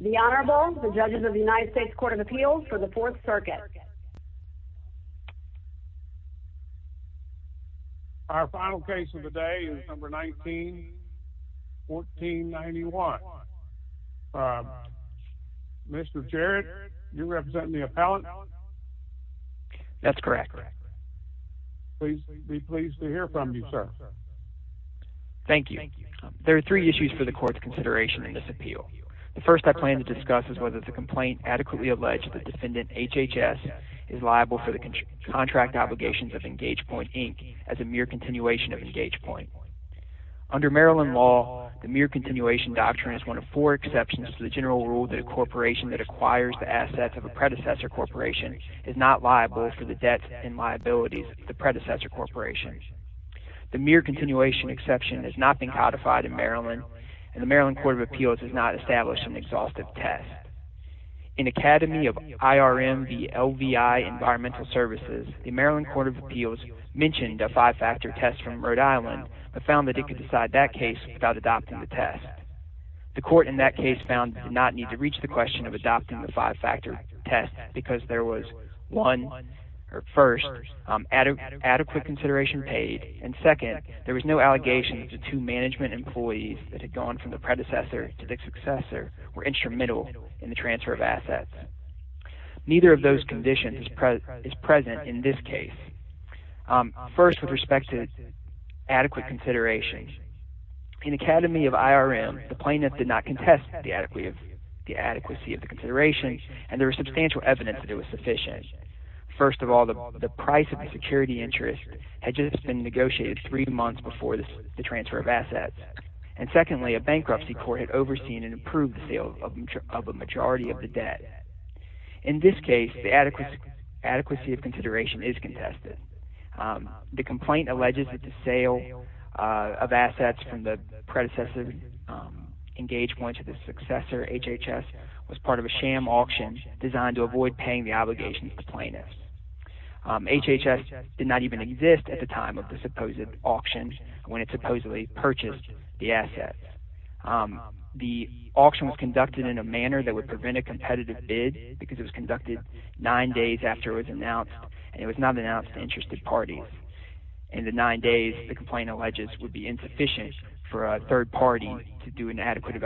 The Honorable, the Judges of the United States Court of Appeals for the 4th Circuit Our final case of the day is No. 19, 1491 Mr. Jarrett, you represent the appellant? That's correct We'd be pleased to hear from you, sir Thank you There are three issues for the Court's consideration in this appeal The first I plan to discuss is whether the complaint adequately alleged that defendant HHS is liable for the contract obligations of Engage Point, Inc. as a mere continuation of Engage Point Under Maryland law, the mere continuation doctrine is one of four exceptions to the general rule that a corporation that acquires the assets of a predecessor corporation is not liable for the debts and liabilities of the predecessor corporation The mere continuation exception has not been codified in Maryland, and the Maryland Court of Appeals has not established an exhaustive test In Academy of IRM v. LVI Environmental Services, the Maryland Court of Appeals mentioned a five-factor test from Rhode Island but found that it could decide that case without adopting the test The court in that case found it did not need to reach the question of adopting the five-factor test because there was, one, or first, adequate consideration paid. And second, there was no allegation that the two management employees that had gone from the predecessor to the successor were instrumental in the transfer of assets Neither of those conditions is present in this case First, with respect to adequate consideration, in Academy of IRM, the plaintiff did not contest the adequacy of the consideration, and there was substantial evidence that it was sufficient. First of all, the price of the security interest had just been negotiated three months before the transfer of assets. And secondly, a bankruptcy court had overseen and approved the sale of a majority of the debt. In this case, the adequacy of consideration is contested. The complaint alleges that the sale of assets from the predecessor engaged one to the successor, HHS, was part of a sham auction designed to avoid paying the obligations to plaintiffs. HHS did not even exist at the time of the supposed auction when it supposedly purchased the assets. The auction was conducted in a manner that would prevent a competitive bid because it was conducted nine days after it was announced, and it was not announced to interested parties. In the nine days, the complaint alleges would be insufficient for a third party to do an adequate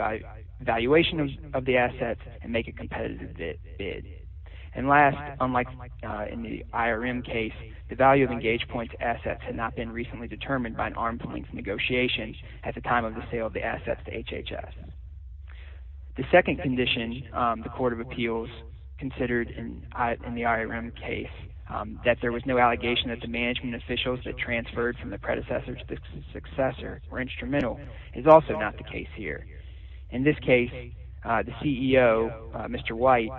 evaluation of the assets and make a competitive bid. And last, unlike in the IRM case, the value of engaged points assets had not been recently determined by an arm's length negotiation at the time of the sale of the assets to HHS. The second condition the court of appeals considered in the IRM case, that there was no allegation that the management officials that transferred from the predecessor to the successor were instrumental, is also not the case here. In this case, the CEO, Mr. White,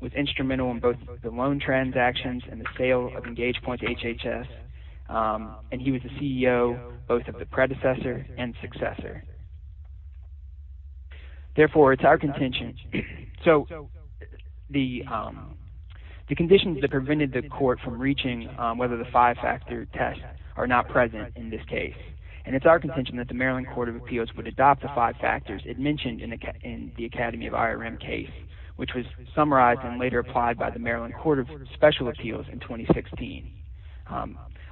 was instrumental in both the loan transactions and the sale of engaged points to HHS, and he was the CEO both of the predecessor and successor. Therefore, it's our contention – so the conditions that prevented the court from reaching whether the five-factor test are not present in this case. And it's our contention that the Maryland Court of Appeals would adopt the five factors it mentioned in the Academy of IRM case, which was summarized and later applied by the Maryland Court of Special Appeals in 2016.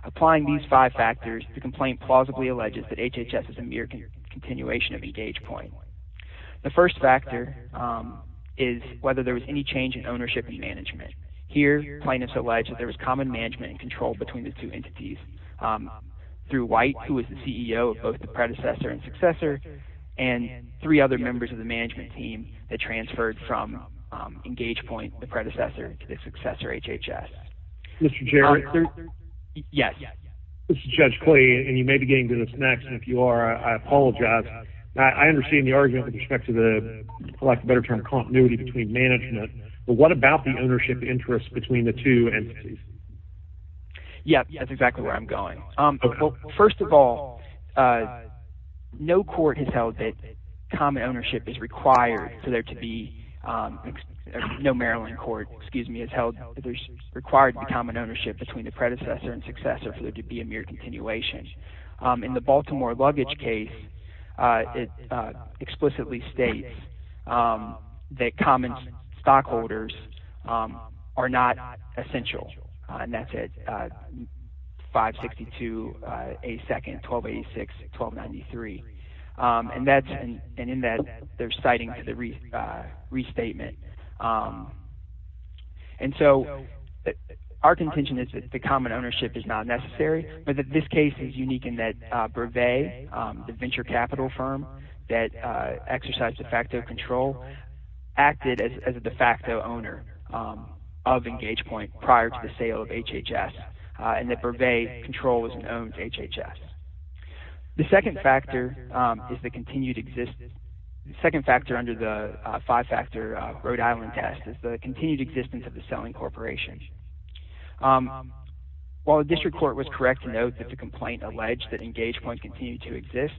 Applying these five factors, the complaint plausibly alleges that HHS is a mere continuation of engaged point. The first factor is whether there was any change in ownership and management. Here, plaintiffs allege that there was common management and control between the two entities through White, who was the CEO of both the predecessor and successor, and three other members of the management team that transferred from engaged point, the predecessor, to the successor, HHS. Mr. Jarrett? Yes. This is Judge Clay, and you may be getting to this next, and if you are, I apologize. I understand the argument with respect to the, for lack of a better term, continuity between management. But what about the ownership interest between the two entities? Yes, that's exactly where I'm going. First of all, no court has held that common ownership is required for there to be – no Maryland court, excuse me, has held that there's required to be common ownership between the predecessor and successor for there to be a mere continuation. In the Baltimore luggage case, it explicitly states that common stockholders are not essential, and that's at 562A2-1286-1293, and in that, they're citing to the restatement. And so our contention is that the common ownership is not necessary, but that this case is unique in that Brevet, the venture capital firm that exercised de facto control, acted as a de facto owner of engaged point prior to the sale of HHS, and that Brevet control was known to HHS. The second factor is the continued existence – the second factor under the five-factor Rhode Island test is the continued existence of the selling corporation. While the district court was correct to note that the complaint alleged that engaged point continued to exist,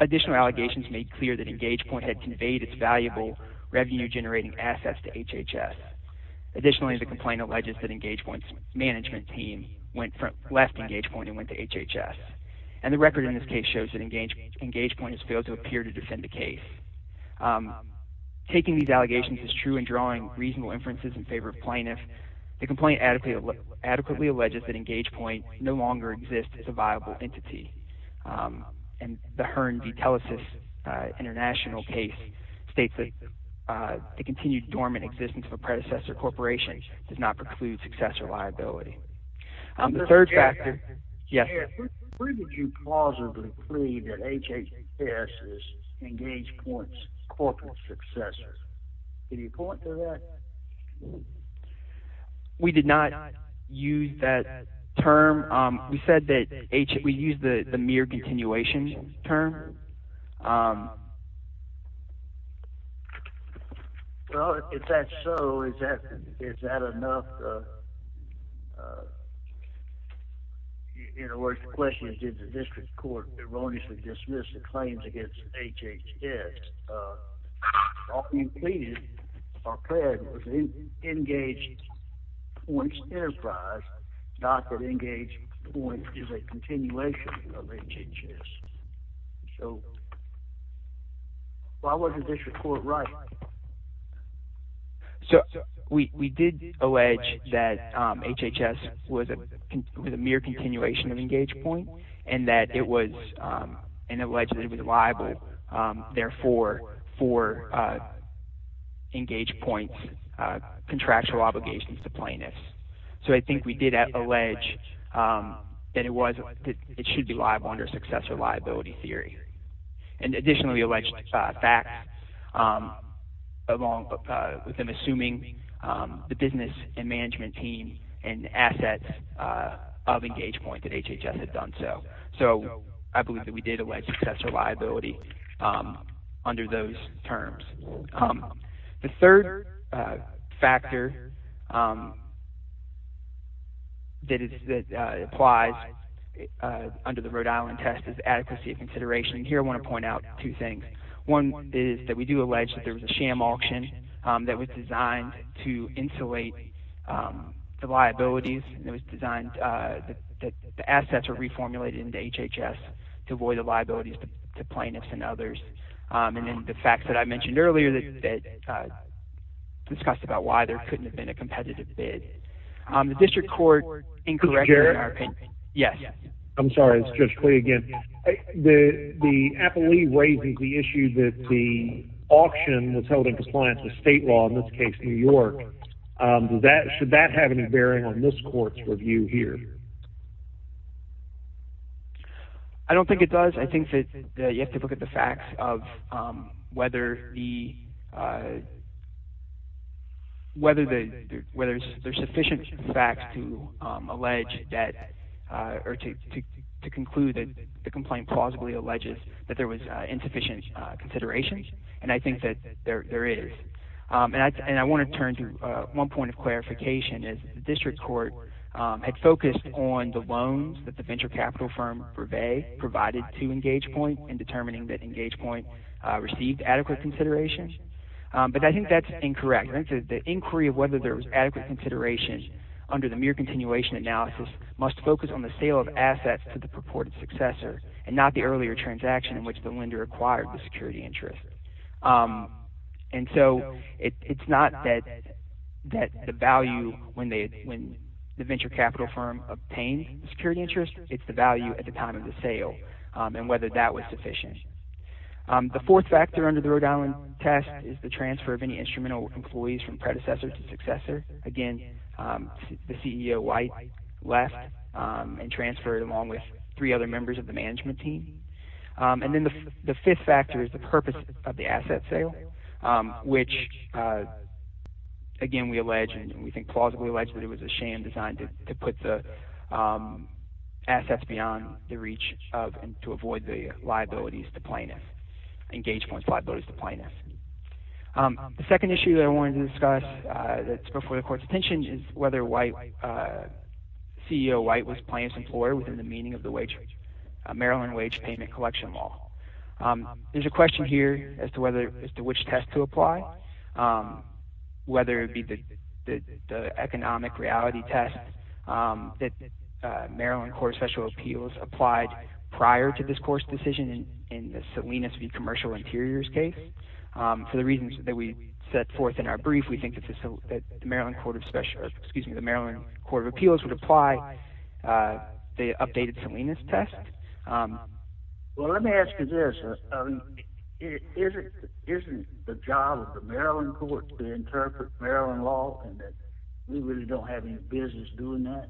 additional allegations made clear that engaged point had conveyed its valuable revenue-generating assets to HHS. Additionally, the complaint alleges that engaged point's management team went from – left engaged point and went to HHS. And the record in this case shows that engaged point has failed to appear to defend the case. Taking these allegations as true and drawing reasonable inferences in favor of plaintiffs, the complaint adequately alleges that engaged point no longer exists as a viable entity. And the Hearn v. Telesis international case states that the continued dormant existence of a predecessor corporation does not preclude successor liability. The third factor – yes, sir? Where did you plausibly claim that HHS's engaged point's corporate successor? Any point to that? We did not use that term. We said that – we used the mere continuation term. Well, if that's so, is that enough? In other words, the question is did the district court erroneously dismiss the claims against HHS? All you pleaded or pled was engaged point's enterprise, not that engaged point is a continuation of HHS. So why wasn't this report right? So we did allege that HHS was a mere continuation of engaged point and that it was an alleged – it was liable. Therefore, for engaged point's contractual obligations to plaintiffs. So I think we did allege that it was – it should be liable under successor liability theory. And additionally, we alleged facts along with them assuming the business and management team and assets of engaged point that HHS had done so. So I believe that we did allege successor liability under those terms. The third factor that applies under the Rhode Island test is adequacy of consideration. And here I want to point out two things. One is that we do allege that there was a sham auction that was designed to insulate the liabilities. And it was designed – the assets were reformulated into HHS to avoid the liabilities to plaintiffs and others. And then the facts that I mentioned earlier that discussed about why there couldn't have been a competitive bid. The district court incorrectly – I'm sorry. It's Judge Clay again. The appellee raises the issue that the auction was held in compliance with state law, in this case New York. Should that have any bearing on this court's review here? I don't think it does. I think that you have to look at the facts of whether there's sufficient facts to allege that – or to conclude that the complaint plausibly alleges that there was insufficient consideration. And I think that there is. And I want to turn to one point of clarification. The district court had focused on the loans that the venture capital firm, Brevet, provided to EngagePoint in determining that EngagePoint received adequate consideration. But I think that's incorrect. The inquiry of whether there was adequate consideration under the mere continuation analysis must focus on the sale of assets to the purported successor…… and not the earlier transaction in which the lender acquired the security interest. And so it's not that the value when the venture capital firm obtained the security interest. It's the value at the time of the sale and whether that was sufficient. The fourth factor under the Rhode Island test is the transfer of any instrumental employees from predecessor to successor. Again, the CEO, White, left and transferred along with three other members of the management team. And then the fifth factor is the purpose of the asset sale, which, again, we allege and we think plausibly allege that it was a sham designed to put the assets beyond the reach of and to avoid the liabilities to plaintiffs, EngagePoint's liabilities to plaintiffs. The second issue that I wanted to discuss that's before the court's attention is whether CEO White was a plaintiff's employer within the meaning of the Maryland wage payment collection law. There's a question here as to which test to apply, whether it be the economic reality test that Maryland Court of Special Appeals applied prior to this court's decision in the Salinas v. Commercial Interiors case. For the reasons that we set forth in our brief, we think that the Maryland Court of Appeals would apply the updated Salinas test. Well, let me ask you this. Isn't the job of the Maryland court to interpret Maryland law and that we really don't have any business doing that?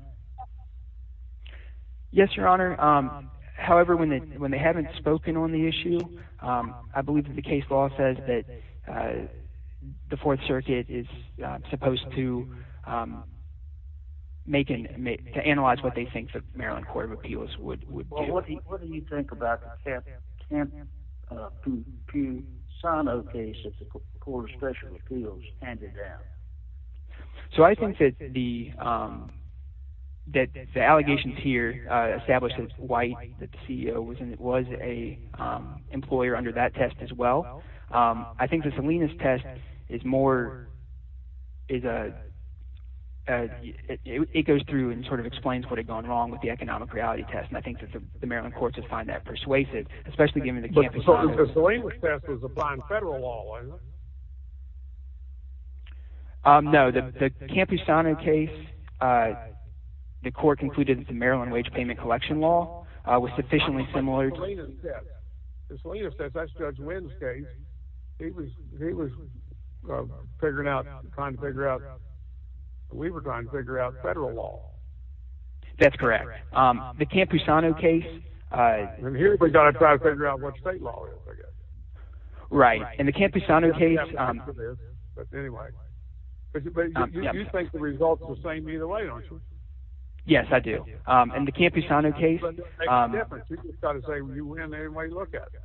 Yes, Your Honor. However, when they haven't spoken on the issue, I believe that the case law says that the Fourth Circuit is supposed to make – to analyze what they think the Maryland Court of Appeals would do. Well, what do you think about the Camposano case that the Court of Special Appeals handed down? So I think that the allegations here establish that White, the CEO, was an employer under that test as well. I think the Salinas test is more – it goes through and sort of explains what had gone wrong with the economic reality test, and I think that the Maryland courts would find that persuasive, especially given the Camposano case. But the Salinas test was applied in federal law, wasn't it? No. The Camposano case, the court concluded that the Maryland wage payment collection law was sufficiently similar to – But the Salinas test – the Salinas test, that's Judge Wynn's case. He was figuring out – trying to figure out – we were trying to figure out federal law. That's correct. The Camposano case – And here we've got to try to figure out what state law is, I guess. Right. And the Camposano case – But anyway, you think the results are the same either way, don't you? Yes, I do. And the Camposano case – But it makes a difference. You just got to say you win anyway you look at it.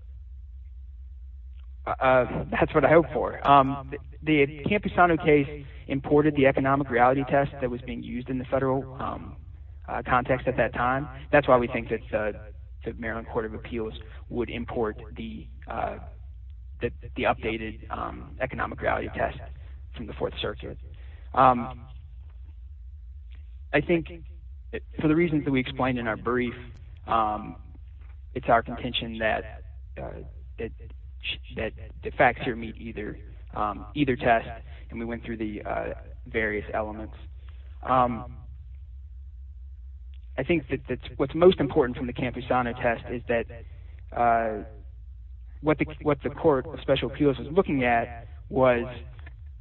That's what I hope for. The Camposano case imported the economic reality test that was being used in the federal context at that time. That's why we think that the Maryland Court of Appeals would import the updated economic reality test from the Fourth Circuit. I think for the reasons that we explained in our brief, it's our contention that the facts here meet either test, and we went through the various elements. I think that what's most important from the Camposano test is that what the Court of Special Appeals was looking at was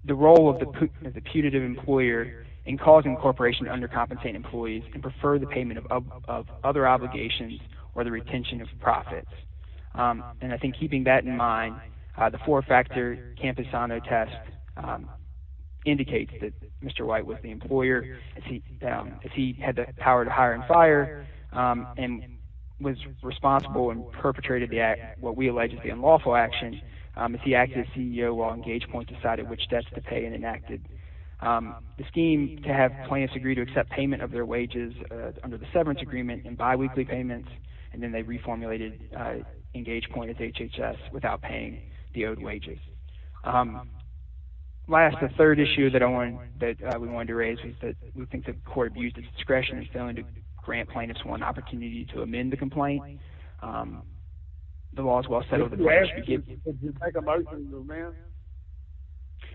the role of the putative employer in causing a corporation to undercompensate employees and prefer the payment of other obligations or the retention of profits. And I think keeping that in mind, the four-factor Camposano test indicates that Mr. White was the employer. He had the power to hire and fire and was responsible and perpetrated what we allege is the unlawful action. He acted as CEO while EngagePoint decided which debts to pay and enacted the scheme to have plaintiffs agree to accept payment of their wages under the severance agreement and biweekly payments. And then they reformulated EngagePoint as HHS without paying the owed wages. Last, the third issue that we wanted to raise is that we think the court abused its discretion in failing to grant plaintiffs one opportunity to amend the complaint. The law is well set over the place.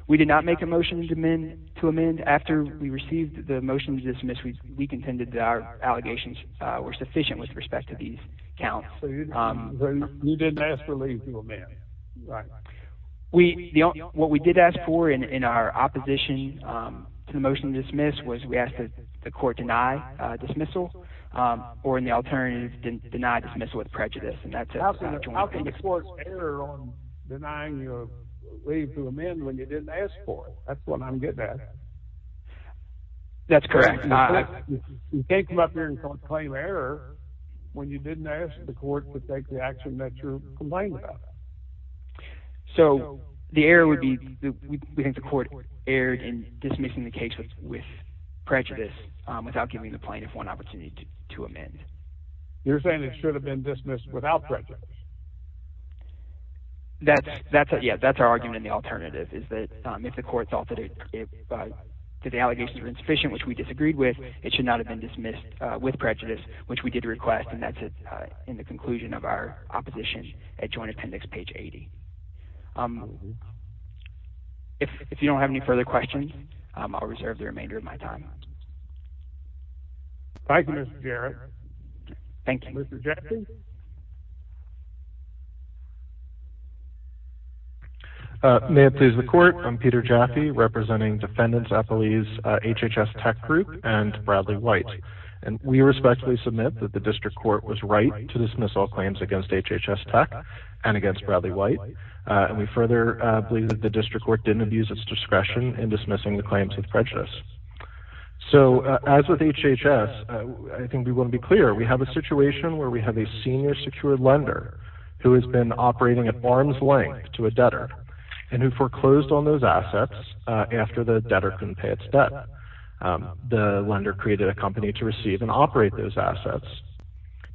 We did not make a motion to amend. After we received the motion to dismiss, we contended that our allegations were sufficient with respect to these accounts. You didn't ask for leave to amend. Right. What we did ask for in our opposition to the motion to dismiss was we asked that the court deny dismissal or, in the alternative, deny dismissal with prejudice. How can the court err on denying leave to amend when you didn't ask for it? That's what I'm getting at. That's correct. You can't come up here and claim error when you didn't ask the court to take the action that you're complaining about. So the error would be we think the court erred in dismissing the case with prejudice without giving the plaintiff one opportunity to amend. You're saying it should have been dismissed without prejudice. That's our argument in the alternative is that if the court felt that the allegations were insufficient, which we disagreed with, it should not have been dismissed with prejudice, which we did request, and that's in the conclusion of our opposition at Joint Appendix page 80. If you don't have any further questions, I'll reserve the remainder of my time. Thank you, Mr. Jarrett. Thank you, Mr. Jaffee. May it please the court, I'm Peter Jaffee, representing defendants at police HHS Tech Group and Bradley White. And we respectfully submit that the district court was right to dismiss all claims against HHS Tech and against Bradley White. And we further believe that the district court didn't abuse its discretion in dismissing the claims with prejudice. So as with HHS, I think we want to be clear. We have a situation where we have a senior secured lender who has been operating at arm's length to a debtor and who foreclosed on those assets after the debtor couldn't pay its debt. The lender created a company to receive and operate those assets.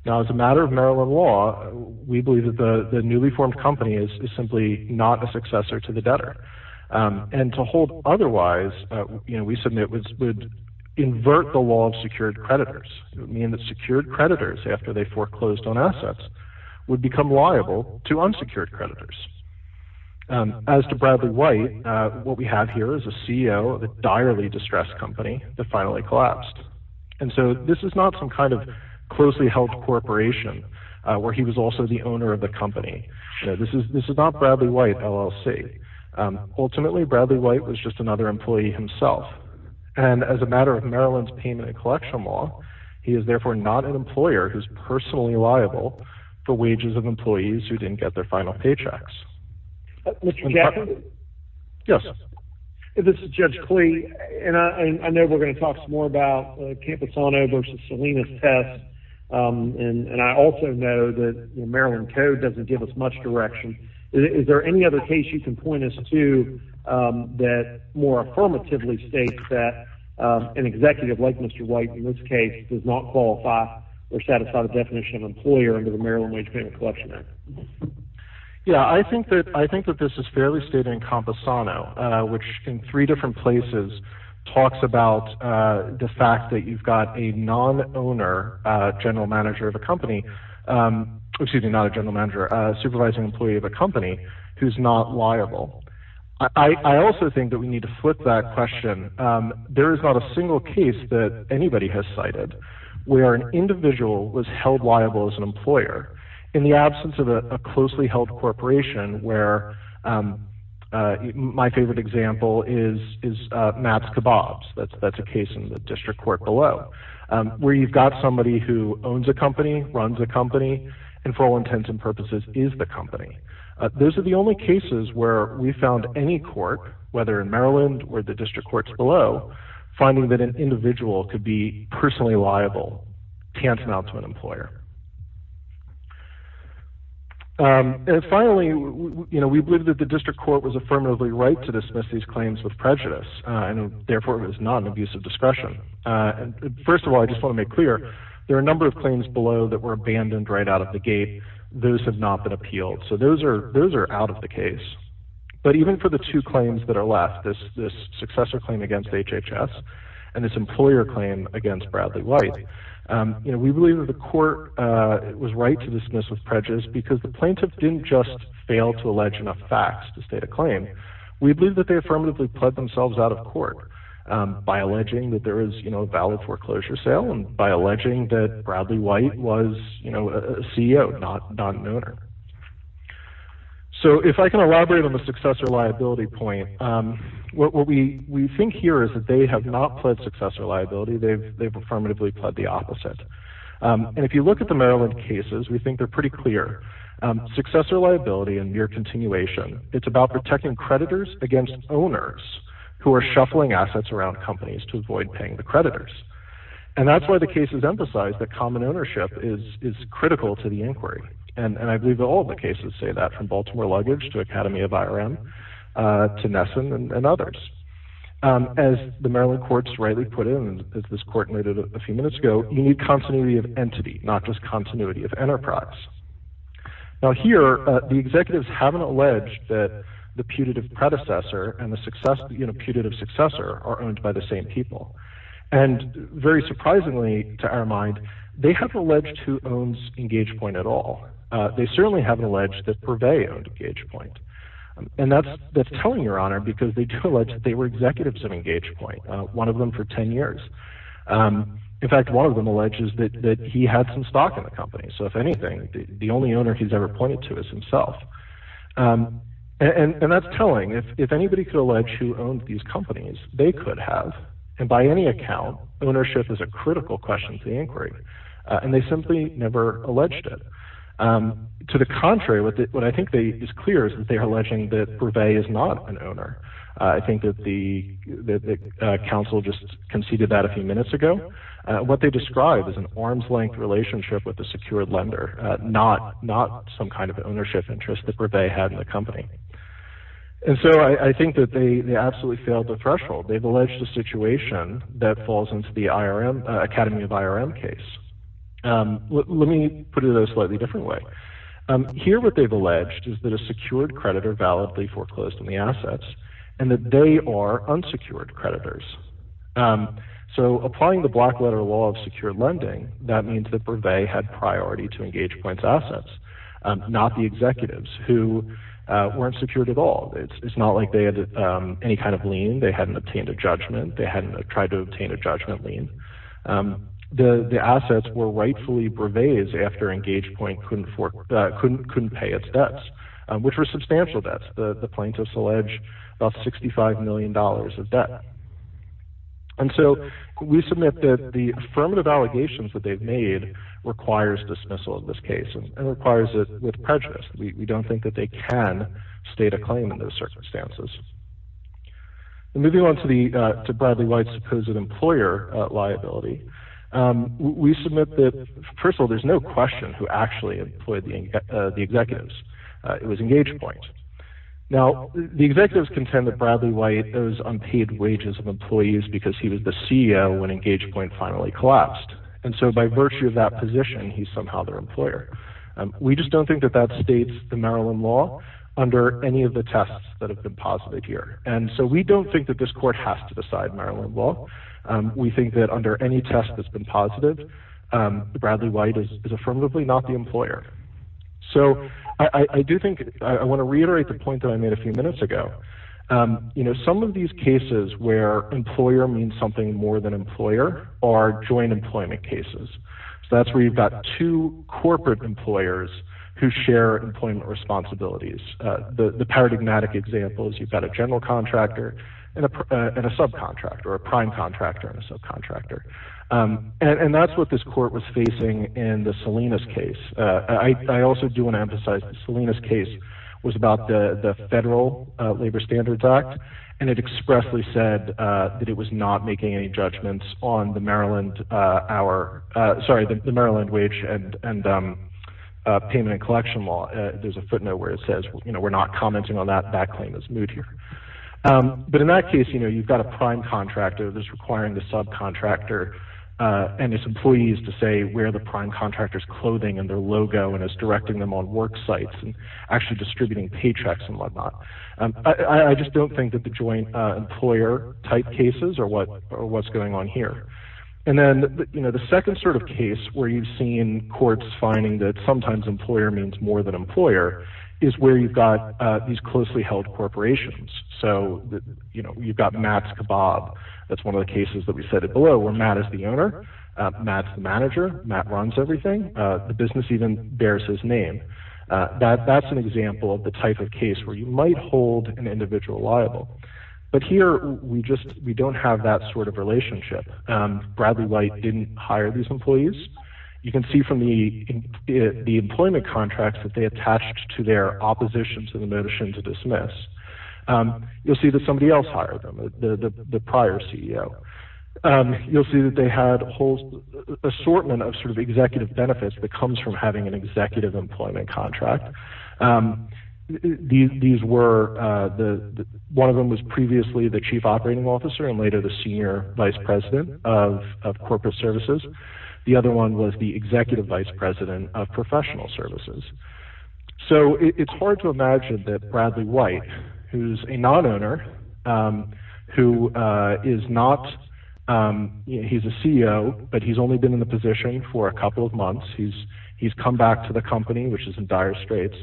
Now, as a matter of Maryland law, we believe that the newly formed company is simply not a successor to the debtor. And to hold otherwise, we submit, would invert the law of secured creditors. It would mean that secured creditors, after they foreclosed on assets, would become liable to unsecured creditors. As to Bradley White, what we have here is a CEO of a direly distressed company that finally collapsed. And so this is not some kind of closely held corporation where he was also the owner of the company. This is not Bradley White, LLC. Ultimately, Bradley White was just another employee himself. And as a matter of Maryland's payment and collection law, he is therefore not an employer who's personally liable for wages of employees who didn't get their final paychecks. Mr. Jackson? Yes. This is Judge Klee. And I know we're going to talk some more about Camposano versus Salinas test. And I also know that Maryland code doesn't give us much direction. Is there any other case you can point us to that more affirmatively states that an executive like Mr. White, in this case, does not qualify or satisfy the definition of employer under the Maryland Wage Payment Collection Act? Yeah, I think that this is fairly stated in Camposano, which in three different places talks about the fact that you've got a non-owner general manager of a company. Excuse me, not a general manager, a supervising employee of a company who's not liable. I also think that we need to flip that question. There is not a single case that anybody has cited where an individual was held liable as an employer. In the absence of a closely held corporation where my favorite example is Matt's Kebabs. That's a case in the district court below where you've got somebody who owns a company, runs a company, and for all intents and purposes is the company. Those are the only cases where we found any court, whether in Maryland or the district courts below, finding that an individual could be personally liable tantamount to an employer. Finally, we believe that the district court was affirmatively right to dismiss these claims with prejudice, and therefore it was not an abuse of discretion. First of all, I just want to make clear, there are a number of claims below that were abandoned right out of the gate. Those have not been appealed, so those are out of the case. But even for the two claims that are left, this successor claim against HHS and this employer claim against Bradley White, we believe that the court was right to dismiss with prejudice because the plaintiff didn't just fail to allege enough facts to state a claim. We believe that they affirmatively pled themselves out of court by alleging that there is a valid foreclosure sale and by alleging that Bradley White was a CEO, not an owner. If I can elaborate on the successor liability point, what we think here is that they have not pled successor liability. They've affirmatively pled the opposite. If you look at the Maryland cases, we think they're pretty clear. Successor liability and mere continuation, it's about protecting creditors against owners who are shuffling assets around companies to avoid paying the creditors. That's why the cases emphasize that common ownership is critical to the inquiry. I believe that all of the cases say that, from Baltimore Luggage to Academy of IRM to Nesson and others. As the Maryland courts rightly put in, as this court noted a few minutes ago, you need continuity of entity, not just continuity of enterprise. Here, the executives haven't alleged that the putative predecessor and the putative successor are owned by the same people. Very surprisingly to our mind, they haven't alleged who owns Engage Point at all. They certainly haven't alleged that Purvey owned Engage Point. That's telling, Your Honor, because they do allege that they were executives of Engage Point, one of them for 10 years. In fact, one of them alleges that he had some stock in the company. If anything, the only owner he's ever pointed to is himself. That's telling. If anybody could allege who owned these companies, they could have. By any account, ownership is a critical question to the inquiry. They simply never alleged it. To the contrary, what I think is clear is that they are alleging that Purvey is not an owner. I think that the counsel just conceded that a few minutes ago. What they describe is an arm's-length relationship with a secured lender, not some kind of ownership interest that Purvey had in the company. I think that they absolutely failed the threshold. They've alleged a situation that falls into the Academy of IRM case. Let me put it in a slightly different way. Here what they've alleged is that a secured creditor validly foreclosed on the assets and that they are unsecured creditors. Applying the black-letter law of secured lending, that means that Purvey had priority to Engage Point's assets, not the executives who weren't secured at all. It's not like they had any kind of lien. They hadn't obtained a judgment. They hadn't tried to obtain a judgment lien. The assets were rightfully Purvey's after Engage Point couldn't pay its debts, which were substantial debts. The plaintiffs allege about $65 million of debt. We submit that the affirmative allegations that they've made requires dismissal in this case and requires it with prejudice. We don't think that they can state a claim in those circumstances. Moving on to Bradley White's supposed employer liability, we submit that, first of all, there's no question who actually employed the executives. It was Engage Point. Now, the executives contend that Bradley White owes unpaid wages of employees because he was the CEO when Engage Point finally collapsed. By virtue of that position, he's somehow their employer. We just don't think that that states the Maryland law under any of the tests that have been posited here. And so we don't think that this court has to decide Maryland law. We think that under any test that's been posited, Bradley White is affirmatively not the employer. So I do think I want to reiterate the point that I made a few minutes ago. You know, some of these cases where employer means something more than employer are joint employment cases. So that's where you've got two corporate employers who share employment responsibilities. The paradigmatic example is you've got a general contractor and a subcontractor or a prime contractor and a subcontractor. And that's what this court was facing in the Salinas case. I also do want to emphasize the Salinas case was about the Federal Labor Standards Act, and it expressly said that it was not making any judgments on the Maryland wage and payment and collection law. There's a footnote where it says, you know, we're not commenting on that. That claim is moot here. But in that case, you know, you've got a prime contractor that's requiring the subcontractor and its employees to say where the prime contractor's clothing and their logo and is directing them on work sites and actually distributing paychecks and whatnot. I just don't think that the joint employer type cases are what's going on here. And then, you know, the second sort of case where you've seen courts finding that sometimes employer means more than employer is where you've got these closely held corporations. So, you know, you've got Matt's Kebab. That's one of the cases that we cited below where Matt is the owner. Matt's the manager. Matt runs everything. The business even bears his name. That's an example of the type of case where you might hold an individual liable. But here, we don't have that sort of relationship. Bradley White didn't hire these employees. You can see from the employment contracts that they attached to their opposition to the motion to dismiss. You'll see that somebody else hired them. The prior CEO. You'll see that they had a whole assortment of sort of executive benefits that comes from having an executive employment contract. These were the one of them was previously the chief operating officer and later the senior vice president of corporate services. The other one was the executive vice president of professional services. So it's hard to imagine that Bradley White, who's a non-owner, who is not. He's a CEO, but he's only been in the position for a couple of months. He's come back to the company, which is in dire straits.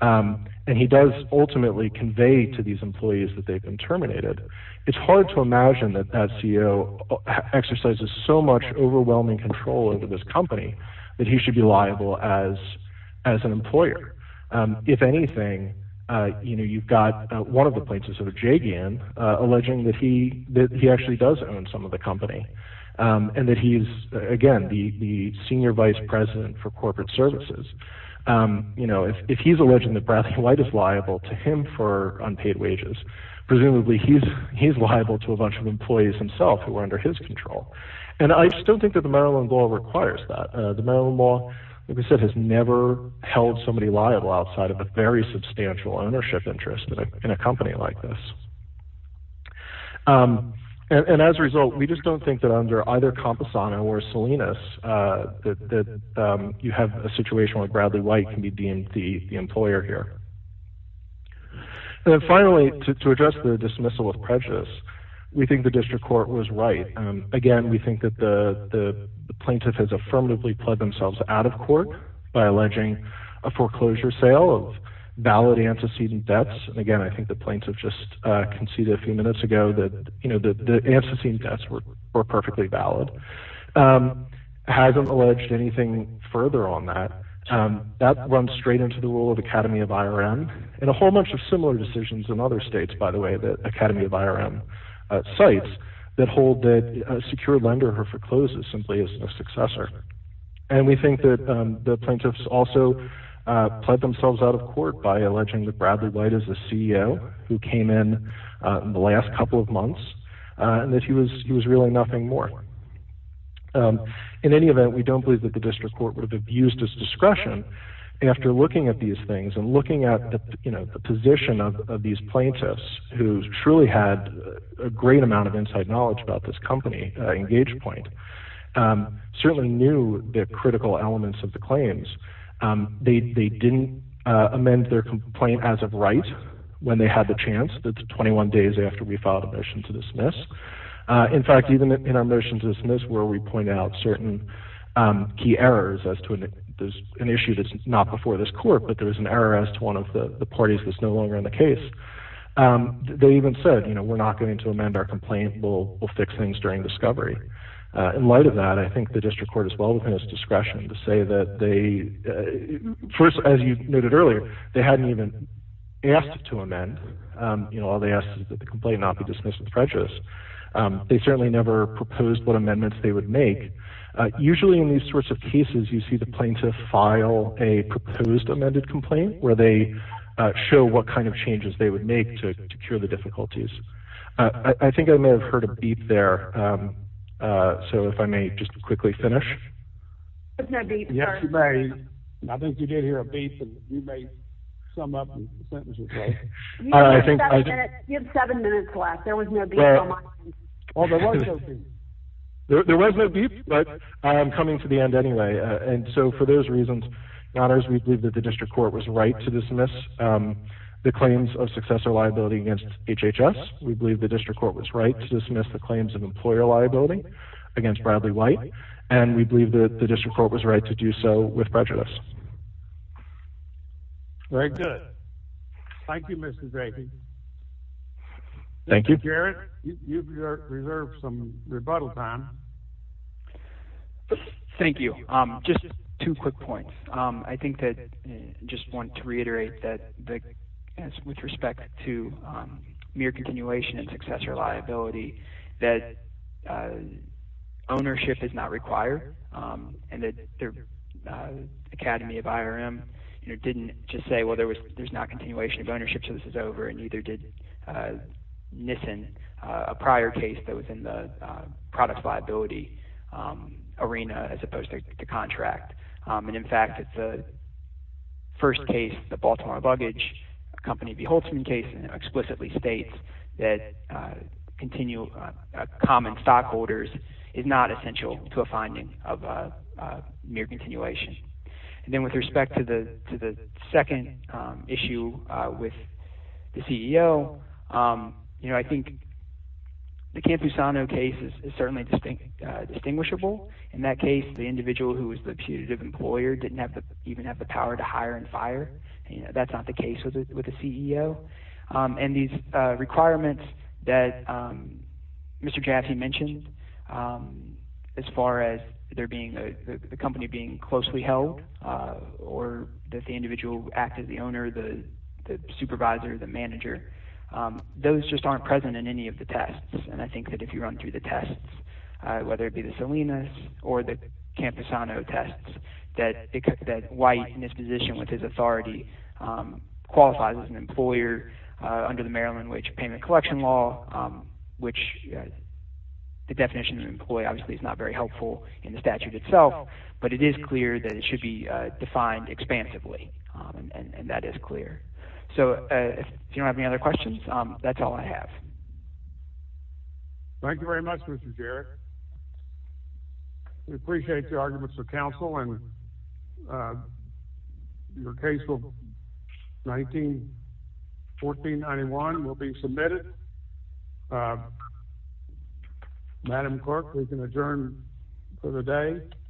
And he does ultimately convey to these employees that they've been terminated. It's hard to imagine that that CEO exercises so much overwhelming control over this company that he should be liable as an employer. If anything, you've got one of the points of sort of J. Gann alleging that he actually does own some of the company and that he's, again, the senior vice president for corporate services. If he's alleging that Bradley White is liable to him for unpaid wages, presumably he's liable to a bunch of employees himself who are under his control. And I still think that the Maryland law requires that. The Maryland law, like I said, has never held somebody liable outside of a very substantial ownership interest in a company like this. And as a result, we just don't think that under either Camposano or Salinas that you have a situation where Bradley White can be deemed the employer here. And then finally, to address the dismissal of prejudice, we think the district court was right. Again, we think that the plaintiff has affirmatively pled themselves out of court by alleging a foreclosure sale of valid antecedent debts. And again, I think the plaintiff just conceded a few minutes ago that the antecedent debts were perfectly valid. Hasn't alleged anything further on that. That runs straight into the role of Academy of IRM and a whole bunch of similar decisions in other states, by the way, the Academy of IRM sites that hold that a secure lender forecloses simply as a successor. And we think that the plaintiffs also pled themselves out of court by alleging that Bradley White is the CEO who came in the last couple of months and that he was really nothing more. In any event, we don't believe that the district court would have abused his discretion after looking at these things and looking at the position of these plaintiffs who truly had a great amount of inside knowledge about this company, EngagePoint, certainly knew the critical elements of the claims. They didn't amend their complaint as of right when they had the chance. That's 21 days after we filed a motion to dismiss. In fact, even in our motion to dismiss where we point out certain key errors as to an issue that's not before this court, but there is an error as to one of the parties that's no longer in the case. They even said, you know, we're not going to amend our complaint. We'll fix things during discovery. In light of that, I think the district court is well within its discretion to say that they first, as you noted earlier, they hadn't even asked to amend. All they asked is that the complaint not be dismissed with prejudice. They certainly never proposed what amendments they would make. Usually in these sorts of cases, you see the plaintiff file a proposed amended complaint where they show what kind of changes they would make to cure the difficulties. I think I may have heard a beep there, so if I may just quickly finish. Yes, you may. I think you did hear a beep, and you may sum up the sentence as well. You have seven minutes left. There was no beep on mine. There was no beep, but I am coming to the end anyway. And so for those reasons, we believe that the district court was right to dismiss the claims of successor liability against HHS. We believe the district court was right to dismiss the claims of employer liability against Bradley White. And we believe that the district court was right to do so with prejudice. Very good. Thank you, Mr. Drakey. Thank you. Mr. Garrett, you've reserved some rebuttal time. Thank you. Just two quick points. I think that I just wanted to reiterate that with respect to mere continuation of successor liability, that ownership is not required, and that the Academy of IRM didn't just say, well, there's not continuation of ownership, so this is over, and neither did NISN, a prior case that was in the product liability arena as opposed to the contract. And, in fact, the first case, the Baltimore luggage company beholdsman case, explicitly states that common stockholders is not essential to a finding of mere continuation. And then with respect to the second issue with the CEO, you know, I think the Campusano case is certainly distinguishable. In that case, the individual who was the putative employer didn't even have the power to hire and fire. That's not the case with the CEO. And these requirements that Mr. Jaffe mentioned as far as the company being closely held or that the individual act as the owner, the supervisor, the manager, those just aren't present in any of the tests. And I think that if you run through the tests, whether it be the Salinas or the Campusano tests, that White in his position with his authority qualifies as an employer under the Maryland wage payment collection law, which the definition of employee obviously is not very helpful in the statute itself, but it is clear that it should be defined expansively, and that is clear. So if you don't have any other questions, that's all I have. Thank you very much, Mr. Jarrett. We appreciate the arguments of counsel, and your case of 1914-91 will be submitted. Madam Clerk, we can adjourn for the day.